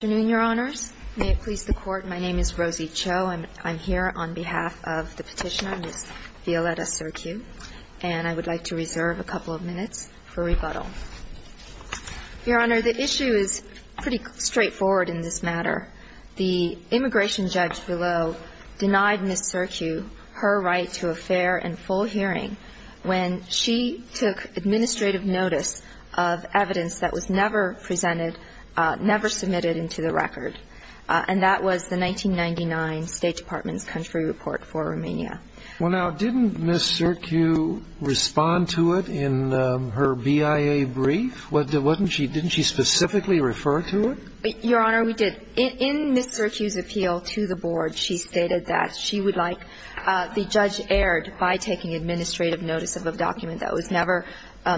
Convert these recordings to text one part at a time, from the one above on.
Good afternoon, Your Honors. May it please the Court, my name is Rosie Cho, and I'm here on behalf of the petitioner, Ms. Violetta Circu, and I would like to reserve a couple of minutes for rebuttal. Your Honor, the issue is pretty straightforward in this matter. The immigration judge below denied Ms. Circu her right to a fair and full hearing when she took administrative notice of evidence that was never presented, never submitted into the record, and that was the 1999 State Department's country report for Romania. Well, now, didn't Ms. Circu respond to it in her BIA brief? Didn't she specifically refer to it? Your Honor, we did. In Ms. Circu's appeal to the Board, she stated that she would like the judge aired by taking administrative notice of a document that was never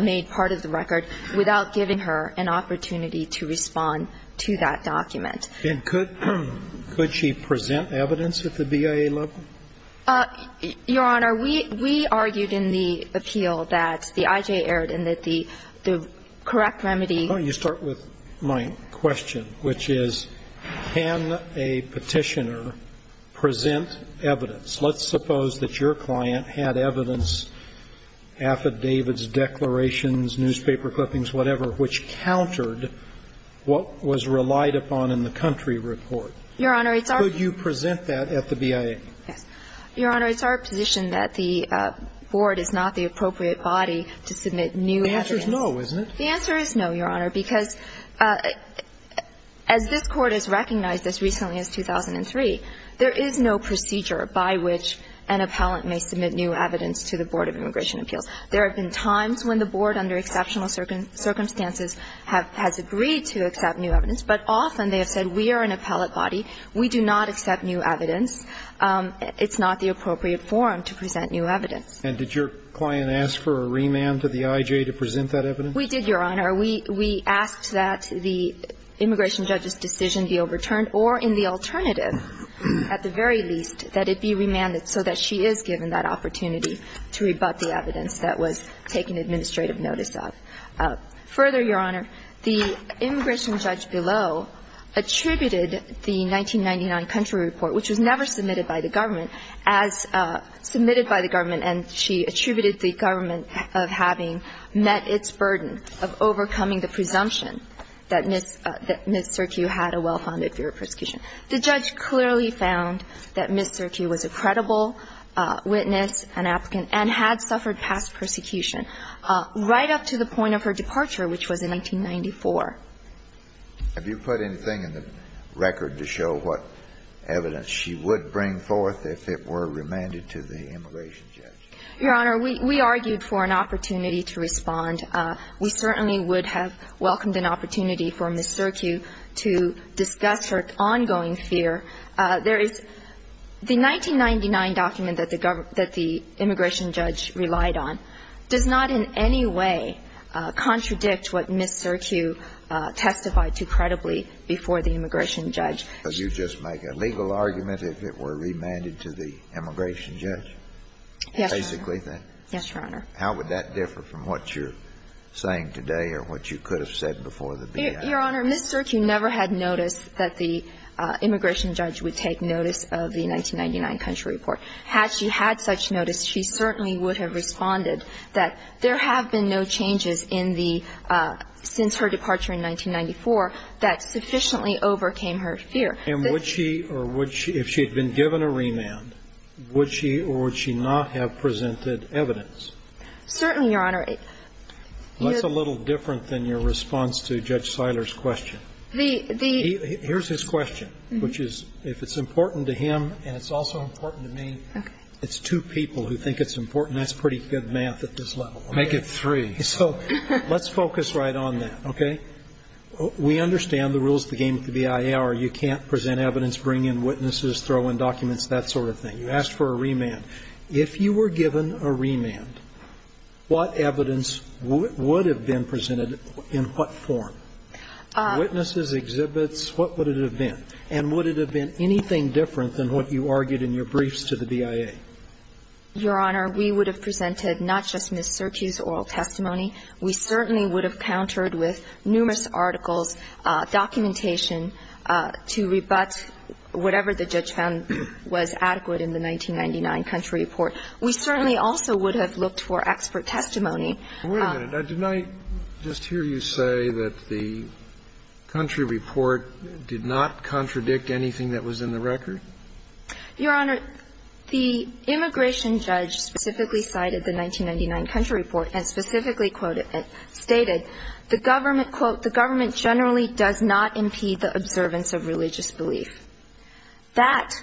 made part of the record without giving her an opportunity to respond to that document. And could she present evidence at the BIA level? Your Honor, we argued in the appeal that the I.J. aired and that the correct remedy. Why don't you start with my question, which is, can a petitioner present evidence? Let's suppose that your client had evidence, affidavits, declarations, newspaper clippings, whatever, which countered what was relied upon in the country report. Your Honor, it's our view. Could you present that at the BIA? Yes. Your Honor, it's our position that the Board is not the appropriate body to submit new evidence. The answer is no, isn't it? The answer is no, Your Honor, because as this Court has recognized as recently as 2003, there is no procedure by which an appellant may submit new evidence to the Board of Immigration Appeals. There have been times when the Board, under exceptional circumstances, has agreed to accept new evidence. But often they have said, we are an appellate body. We do not accept new evidence. It's not the appropriate forum to present new evidence. And did your client ask for a remand to the I.J. to present that evidence? We did, Your Honor. We asked that the immigration judge's decision be overturned, or in the alternative at the very least, that it be remanded so that she is given that opportunity to rebut the evidence that was taken administrative notice of. Further, Your Honor, the immigration judge below attributed the 1999 country report, which was never submitted by the government, as submitted by the government, and she attributed the government of having met its burden of overcoming the presumption that Ms. Serkiu had a well-founded fear of persecution. The judge clearly found that Ms. Serkiu was a credible witness, an applicant, and had suffered past persecution, right up to the point of her departure, which was in 1994. Have you put anything in the record to show what evidence she would bring forth if it were remanded to the immigration judge? Your Honor, we argued for an opportunity to respond. We certainly would have welcomed an opportunity for Ms. Serkiu to discuss her ongoing The 1999 document that the immigration judge relied on does not in any way contradict what Ms. Serkiu testified to credibly before the immigration judge. So you just make a legal argument if it were remanded to the immigration judge? Yes, Your Honor. Basically, then? Yes, Your Honor. How would that differ from what you're saying today or what you could have said before the BIA? Your Honor, Ms. Serkiu never had noticed that the immigration judge would take notice of the 1999 country report. Had she had such notice, she certainly would have responded that there have been no changes in the – since her departure in 1994 that sufficiently overcame her fear. And would she – or would she – if she had been given a remand, would she or would she not have presented evidence? Certainly, Your Honor. Well, that's a little different than your response to Judge Seiler's question. Here's his question, which is if it's important to him and it's also important to me, it's two people who think it's important. That's pretty good math at this level. Make it three. So let's focus right on that, okay? We understand the rules of the game at the BIA are you can't present evidence, bring in witnesses, throw in documents, that sort of thing. You asked for a remand. If you were given a remand, what evidence would have been presented in what form? Witnesses, exhibits, what would it have been? And would it have been anything different than what you argued in your briefs to the BIA? Your Honor, we would have presented not just Ms. Surkiu's oral testimony. We certainly would have countered with numerous articles, documentation to rebut whatever the judge found was adequate in the 1999 country report. We certainly also would have looked for expert testimony. Wait a minute. Didn't I just hear you say that the country report did not contradict anything that was in the record? Your Honor, the immigration judge specifically cited the 1999 country report and specifically stated the government, quote, the government generally does not impede the observance of religious belief. That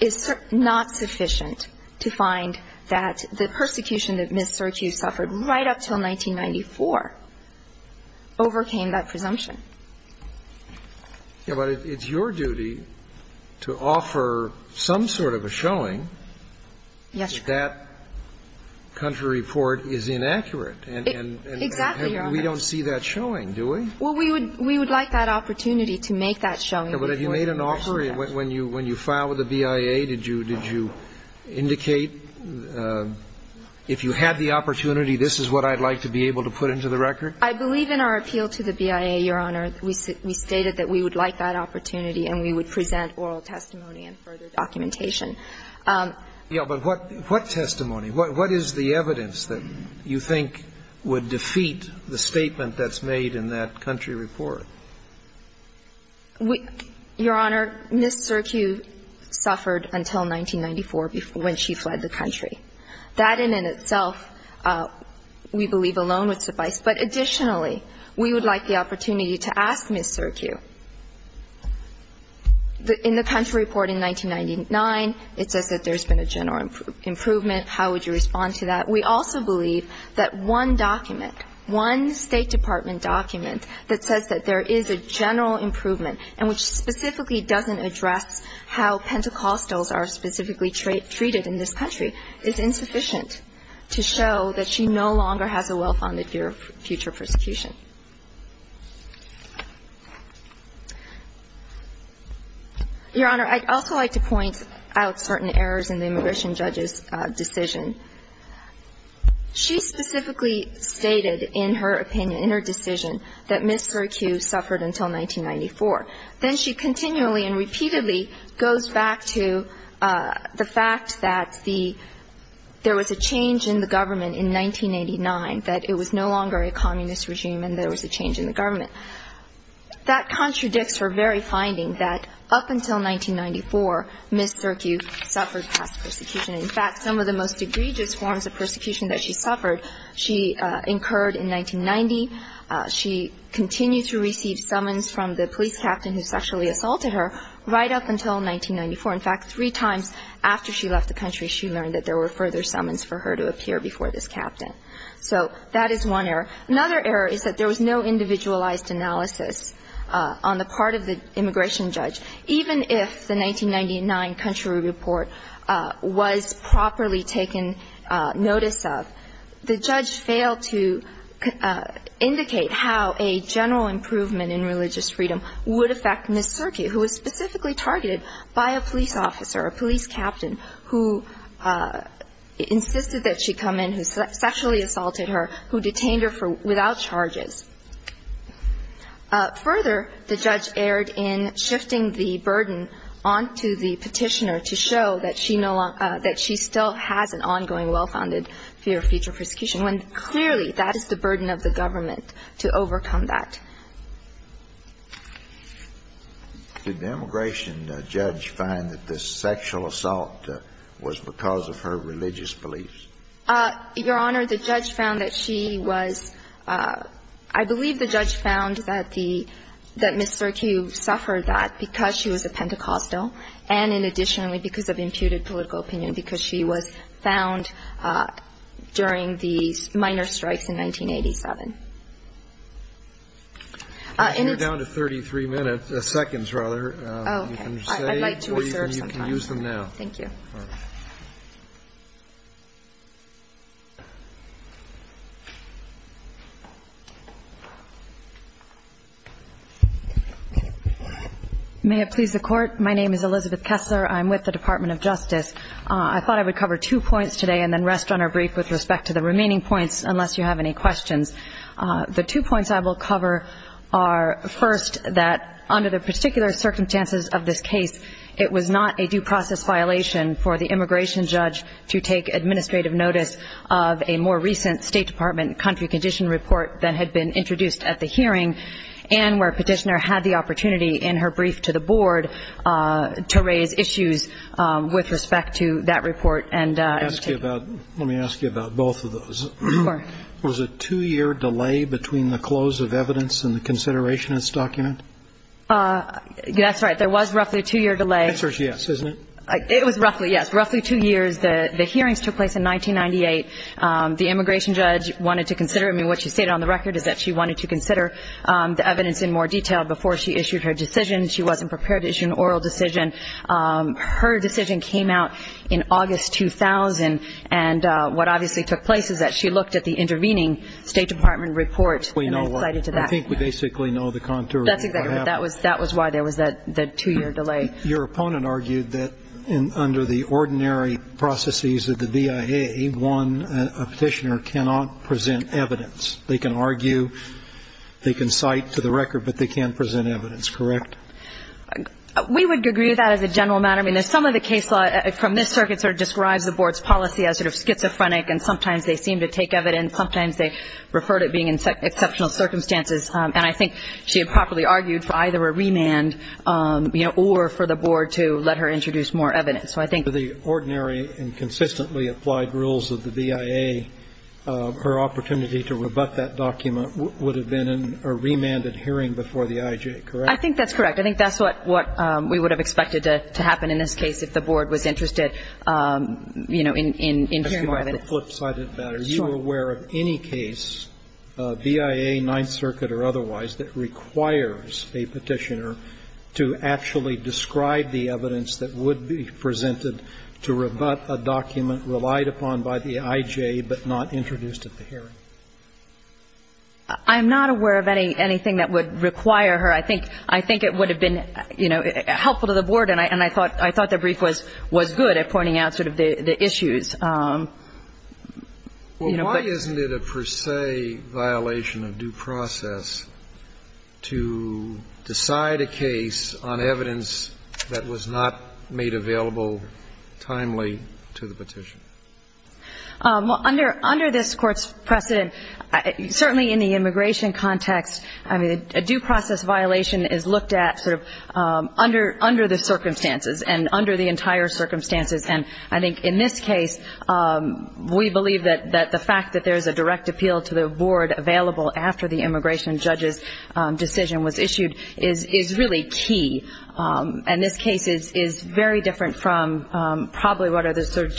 is not sufficient to find that the persecution that Ms. Surkiu suffered right up until 1994 overcame that presumption. Yeah, but it's your duty to offer some sort of a showing that country report is inaccurate and we don't see that showing, do we? Well, we would like that opportunity to make that showing. But have you made an offer when you filed with the BIA? Did you indicate if you had the opportunity, this is what I'd like to be able to put into the record? I believe in our appeal to the BIA, Your Honor, we stated that we would like that opportunity and we would present oral testimony and further documentation. Yeah, but what testimony? What is the evidence that you think would defeat the statement that's made in that country report? Your Honor, Ms. Surkiu suffered until 1994 when she fled the country. That in and of itself we believe alone would suffice. But additionally, we would like the opportunity to ask Ms. Surkiu, in the country report in 1999, it says that there's been a general improvement. How would you respond to that? We also believe that one document, one State Department document that says that there is a general improvement and which specifically doesn't address how Pentecostals are specifically treated in this country is insufficient to show that she no longer has a well-founded fear of future persecution. Your Honor, I'd also like to point out certain errors in the immigration judge's decision. She specifically stated in her opinion, in her decision, that Ms. Surkiu suffered until 1994. Then she continually and repeatedly goes back to the fact that the ‑‑ there was a change in the government in 1989, that it was no longer a communist regime and there was a change in the government. That contradicts her very finding that up until 1994, Ms. Surkiu suffered past persecution. In fact, some of the most egregious forms of persecution that she suffered, she incurred in 1990. She continued to receive summons from the police captain who sexually assaulted her right up until 1994. In fact, three times after she left the country, she learned that there were further summons for her to appear before this captain. So that is one error. Another error is that there was no individualized analysis on the part of the immigration judge, even if the 1999 country report was properly taken notice of. The judge failed to indicate how a general improvement in religious freedom would affect Ms. Surkiu, who was specifically targeted by a police officer, a police captain, who insisted that she come in, who sexually assaulted her, who detained her without charges. Further, the judge erred in shifting the burden on to the petitioner to show that she still has an ongoing well-founded fear of future persecution, when clearly that is the burden of the government to overcome that. Did the immigration judge find that the sexual assault was because of her religious beliefs? Your Honor, the judge found that she was – I believe the judge found that the – that Ms. Surkiu suffered that because she was a Pentecostal and, in addition, because of imputed political opinion, because she was found during the minor strikes in 1987. In its – You're down to 33 minutes – seconds, rather. Oh, okay. I'd like to reserve some time. You can use them now. Thank you. Ms. Kessler, you're up first. May it please the Court, my name is Elizabeth Kessler. I'm with the Department of Justice. I thought I would cover two points today and then rest on our brief with respect to the remaining points, unless you have any questions. The two points I will cover are, first, that under the particular circumstances of this case, it was not a due process violation for the immigration judge to take administrative notice of a more recent State Department country condition report that had been introduced at the hearing, and where Petitioner had the opportunity in her brief to the Board to raise issues with respect to that report. Let me ask you about both of those. Of course. Was there a two-year delay between the close of evidence and the consideration of this document? That's right. There was roughly a two-year delay. The answer is yes, isn't it? It was roughly, yes. Roughly two years. The hearings took place in 1998. The immigration judge wanted to consider it. I mean, what she stated on the record is that she wanted to consider the evidence in more detail before she issued her decision. She wasn't prepared to issue an oral decision. Her decision came out in August 2000, and what obviously took place is that she looked at the intervening State Department report and then cited to that. I think we basically know the contours of what happened. That's exactly right. That was why there was that two-year delay. Your opponent argued that under the ordinary processes of the BIA, a Petitioner cannot present evidence. They can argue, they can cite to the record, but they can't present evidence, correct? We would agree with that as a general matter. I mean, some of the case law from this circuit sort of describes the Board's policy as sort of schizophrenic, and sometimes they seem to take evidence, and sometimes they refer to it being in exceptional circumstances. And I think she had properly argued for either a remand, you know, or for the Board to let her introduce more evidence. So I think the ordinary and consistently applied rules of the BIA, her opportunity to rebut that document would have been a remanded hearing before the IJ, correct? I think that's correct. I think that's what we would have expected to happen in this case if the Board was interested, you know, in hearing more evidence. The flip side of that, are you aware of any case, BIA, Ninth Circuit or otherwise, that requires a Petitioner to actually describe the evidence that would be presented to rebut a document relied upon by the IJ but not introduced at the hearing? I'm not aware of anything that would require her. I think it would have been, you know, helpful to the Board, and I thought the brief was good at pointing out sort of the issues. Well, why isn't it a per se violation of due process to decide a case on evidence that was not made available timely to the petition? Well, under this Court's precedent, certainly in the immigration context, I mean, a due process violation is looked at sort of under the circumstances and under the entire circumstances. And I think in this case, we believe that the fact that there is a direct appeal to the Board available after the immigration judge's decision was issued is really key. And this case is very different from probably what are the sort of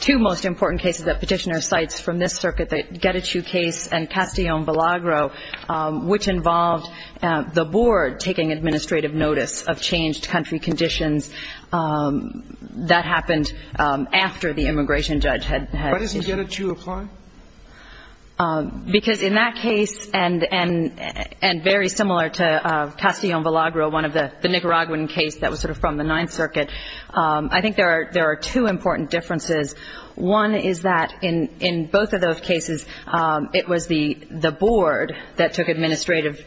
two most important cases that Petitioner cites from this circuit, the Getachew case and Castillon-Belagro, which involved the Board taking administrative notice of changed country conditions that happened after the immigration judge had issued. Why doesn't Getachew apply? Because in that case, and very similar to Castillon-Belagro, one of the Nicaraguan case that was sort of from the Ninth Circuit, I think there are two important differences. One is that in both of those cases, it was the Board that took administrative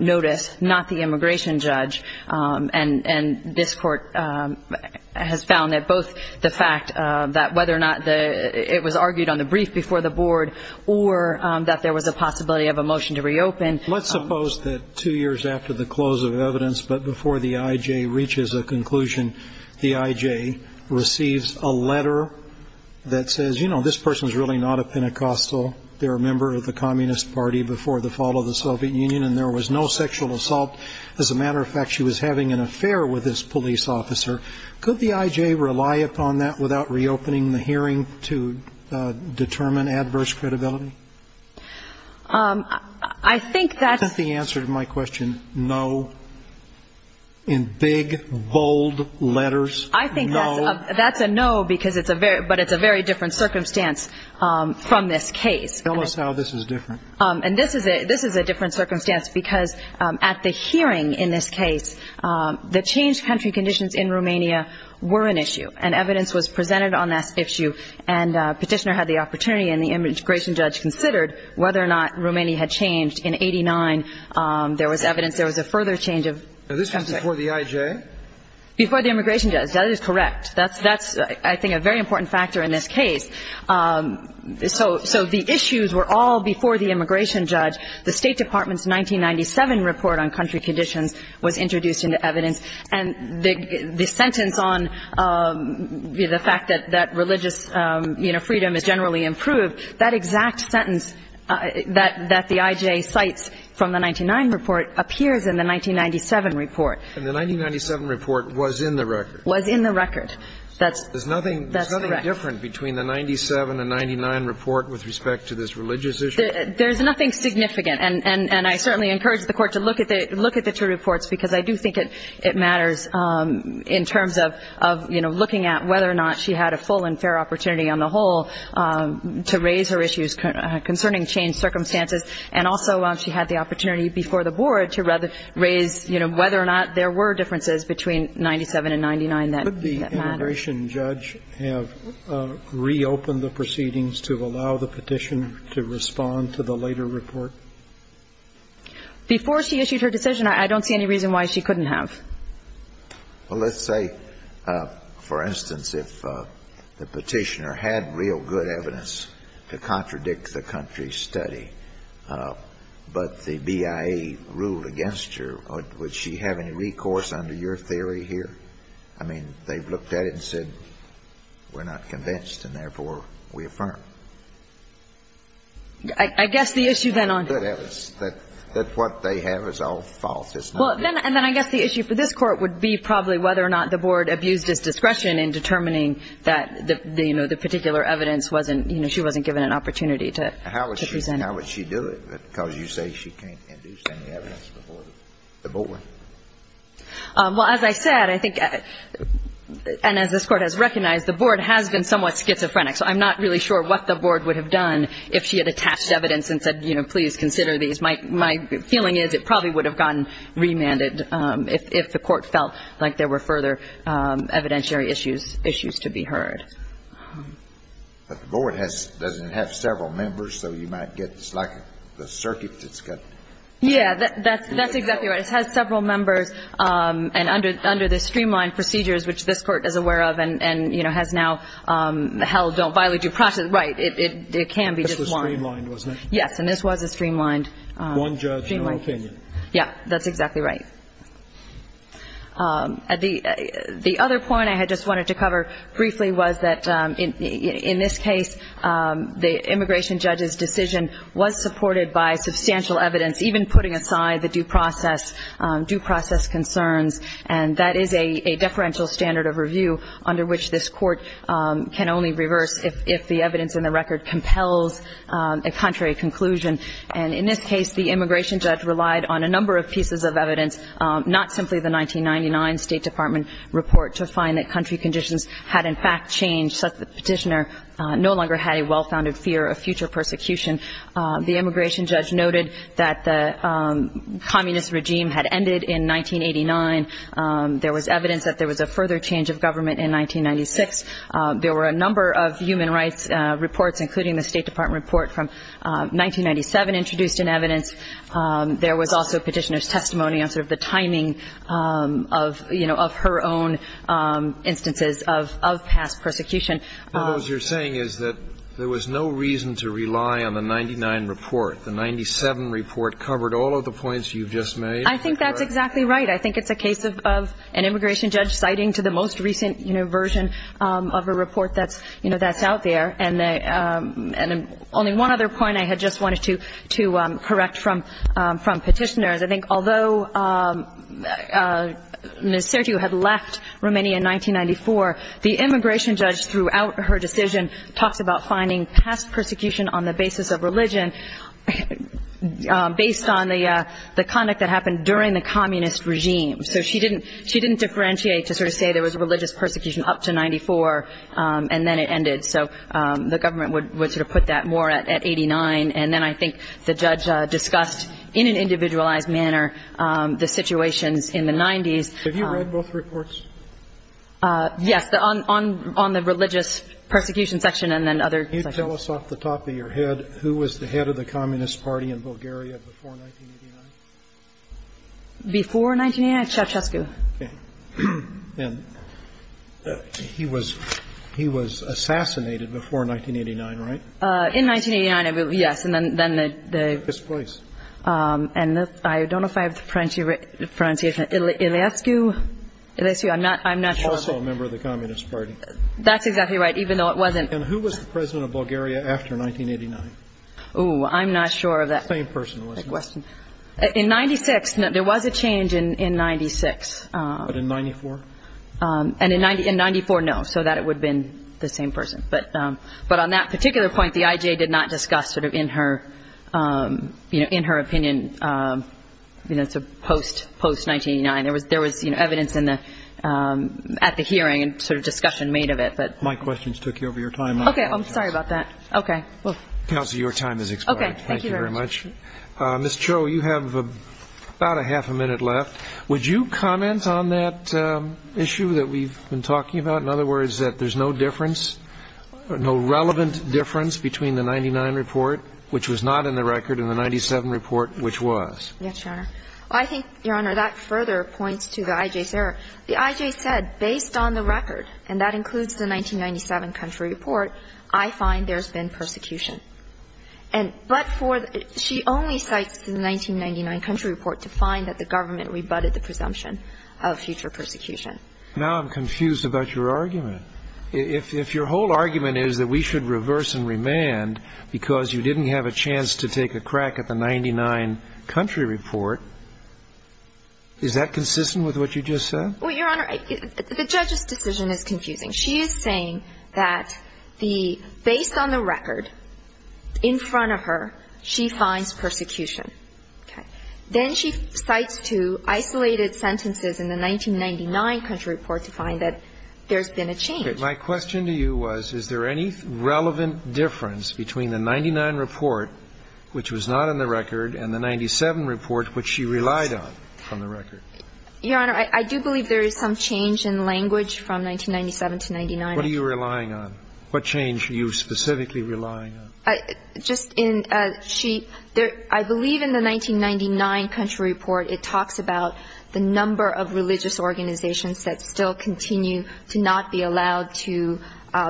notice, not the immigration judge. And this Court has found that both the fact that whether or not it was argued on the brief before the Board or that there was a possibility of a motion to reopen. Let's suppose that two years after the close of evidence but before the I.J. reaches a conclusion, the I.J. receives a letter that says, you know, this person's really not a Pentecostal. They're a member of the Communist Party before the fall of the Soviet Union, and there was no sexual assault. As a matter of fact, she was having an affair with this police officer. Could the I.J. rely upon that without reopening the hearing to determine adverse credibility? I think that's the answer to my question, no. In big, bold letters, no. I think that's a no, but it's a very different circumstance from this case. Tell us how this is different. And this is a different circumstance because at the hearing in this case, the changed country conditions in Romania were an issue, and evidence was presented on that issue, and Petitioner had the opportunity and the immigration judge considered whether or not Romania had changed. In 1989, there was evidence there was a further change of country. Now, this was before the I.J.? Before the immigration judge. That is correct. That's, I think, a very important factor in this case. So the issues were all before the immigration judge. The State Department's 1997 report on country conditions was introduced into evidence, and the sentence on the fact that religious freedom is generally improved, that exact sentence that the I.J. cites from the 1999 report appears in the 1997 report. And the 1997 report was in the record. Was in the record. That's correct. There's nothing different between the 1997 and 1999 report with respect to this religious issue? There's nothing significant, and I certainly encourage the Court to look at the two reports because I do think it matters in terms of, you know, looking at whether or not she had a full and fair opportunity on the whole to raise her issues concerning changed circumstances, and also she had the opportunity before the board to raise, you know, whether or not there were differences between 1997 and 1999 that mattered. Could the immigration judge have reopened the proceedings to allow the petitioner to respond to the later report? Before she issued her decision, I don't see any reason why she couldn't have. Well, let's say, for instance, if the petitioner had real good evidence to contradict the country's study, but the BIA ruled against her, would she have any recourse under your theory here? I mean, they've looked at it and said, we're not convinced, and therefore we affirm. I guess the issue then on the court is that what they have is all false, isn't it? Well, and then I guess the issue for this Court would be probably whether or not the board abused its discretion in determining that, you know, the particular evidence wasn't, you know, she wasn't given an opportunity to present. How would she do it because you say she can't induce any evidence before the board? Well, as I said, I think, and as this Court has recognized, the board has been somewhat schizophrenic, so I'm not really sure what the board would have done if she had attached evidence and said, you know, please consider these. My feeling is it probably would have gotten remanded if the court felt like there were further evidentiary issues to be heard. But the board doesn't have several members, so you might get, it's like the circuit that's got. Yeah, that's exactly right. It has several members, and under the streamlined procedures, which this Court is aware of and, you know, has now held don't violate due process, right, it can be just one. This was streamlined, wasn't it? Yes, and this was a streamlined. One judge in your opinion. Yeah, that's exactly right. The other point I had just wanted to cover briefly was that in this case, the immigration judge's decision was supported by substantial evidence, even putting aside the due process, due process concerns, and that is a deferential standard of review under which this Court can only reverse if the evidence in the record compels a contrary conclusion. And in this case, the immigration judge relied on a number of pieces of evidence, not simply the 1999 State Department report to find that country conditions had in fact changed such that the petitioner no longer had a well-founded fear of future persecution. The immigration judge noted that the communist regime had ended in 1989. There was evidence that there was a further change of government in 1996. There were a number of human rights reports, including the State Department report from 1997 introduced in evidence. There was also petitioner's testimony on sort of the timing of, you know, of her own instances of past persecution. What you're saying is that there was no reason to rely on the 99 report. The 97 report covered all of the points you've just made. I think that's exactly right. I think it's a case of an immigration judge citing to the most recent, you know, version of a report that's, you know, that's out there. And only one other point I had just wanted to correct from petitioners. I think although Ms. Sertiu had left Romania in 1994, the immigration judge throughout her decision talks about finding past persecution on the basis of religion based on the conduct that happened during the communist regime. So she didn't differentiate to sort of say there was religious persecution up to 94 and then it ended. So the government would sort of put that more at 89. And then I think the judge discussed in an individualized manner the situations in the 90s. Have you read both reports? Yes, on the religious persecution section and then other sections. Can you tell us off the top of your head who was the head of the Communist Party in Bulgaria before 1989? Before 1989? Ceaușescu. Okay. And he was assassinated before 1989, right? In 1989, yes. And then the ‑‑ This place. And I don't know if I have the pronunciation. Iliescu? Iliescu? I'm not sure. Also a member of the Communist Party. That's exactly right, even though it wasn't. And who was the president of Bulgaria after 1989? Oh, I'm not sure of that. The same person, wasn't it? In 96, there was a change in 96. But in 94? In 94, no, so that it would have been the same person. But on that particular point, the IJ did not discuss sort of in her opinion, you know, post‑1989. There was evidence at the hearing and sort of discussion made of it. My questions took over your time. Okay. I'm sorry about that. Okay. Counsel, your time has expired. Thank you very much. Thank you very much. Ms. Cho, you have about a half a minute left. Would you comment on that issue that we've been talking about, in other words, that there's no difference, no relevant difference between the 99 report, which was not in the record, and the 97 report, which was? Yes, Your Honor. I think, Your Honor, that further points to the IJ's error. The IJ said, based on the record, and that includes the 1997 country report, I find there's been persecution. And but for ‑‑ she only cites the 1999 country report to find that the government rebutted the presumption of future persecution. Now I'm confused about your argument. If your whole argument is that we should reverse and remand because you didn't have a chance to take a crack at the 99 country report, is that consistent with what you just said? Well, Your Honor, the judge's decision is confusing. She is saying that the ‑‑ based on the record, in front of her, she finds persecution. Okay. Then she cites two isolated sentences in the 1999 country report to find that there's been a change. My question to you was, is there any relevant difference between the 99 report, which was not in the record, and the 97 report, which she relied on from the record? Your Honor, I do believe there is some change in language from 1997 to 99. What are you relying on? What change are you specifically relying on? Just in ‑‑ she ‑‑ I believe in the 1999 country report, it talks about the number of religious organizations that still continue to not be allowed to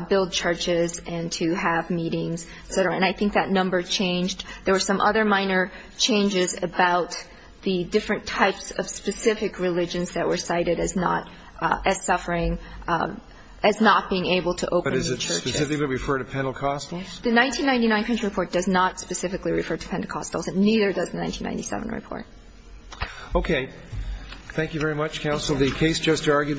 build churches and to have meetings, et cetera. And I think that number changed. There were some other minor changes about the different types of specific religions that were cited as not ‑‑ as suffering, as not being able to open churches. But does it specifically refer to Pentecostals? The 1999 country report does not specifically refer to Pentecostals, and neither does the 1997 report. Okay. The case just argued will be ‑‑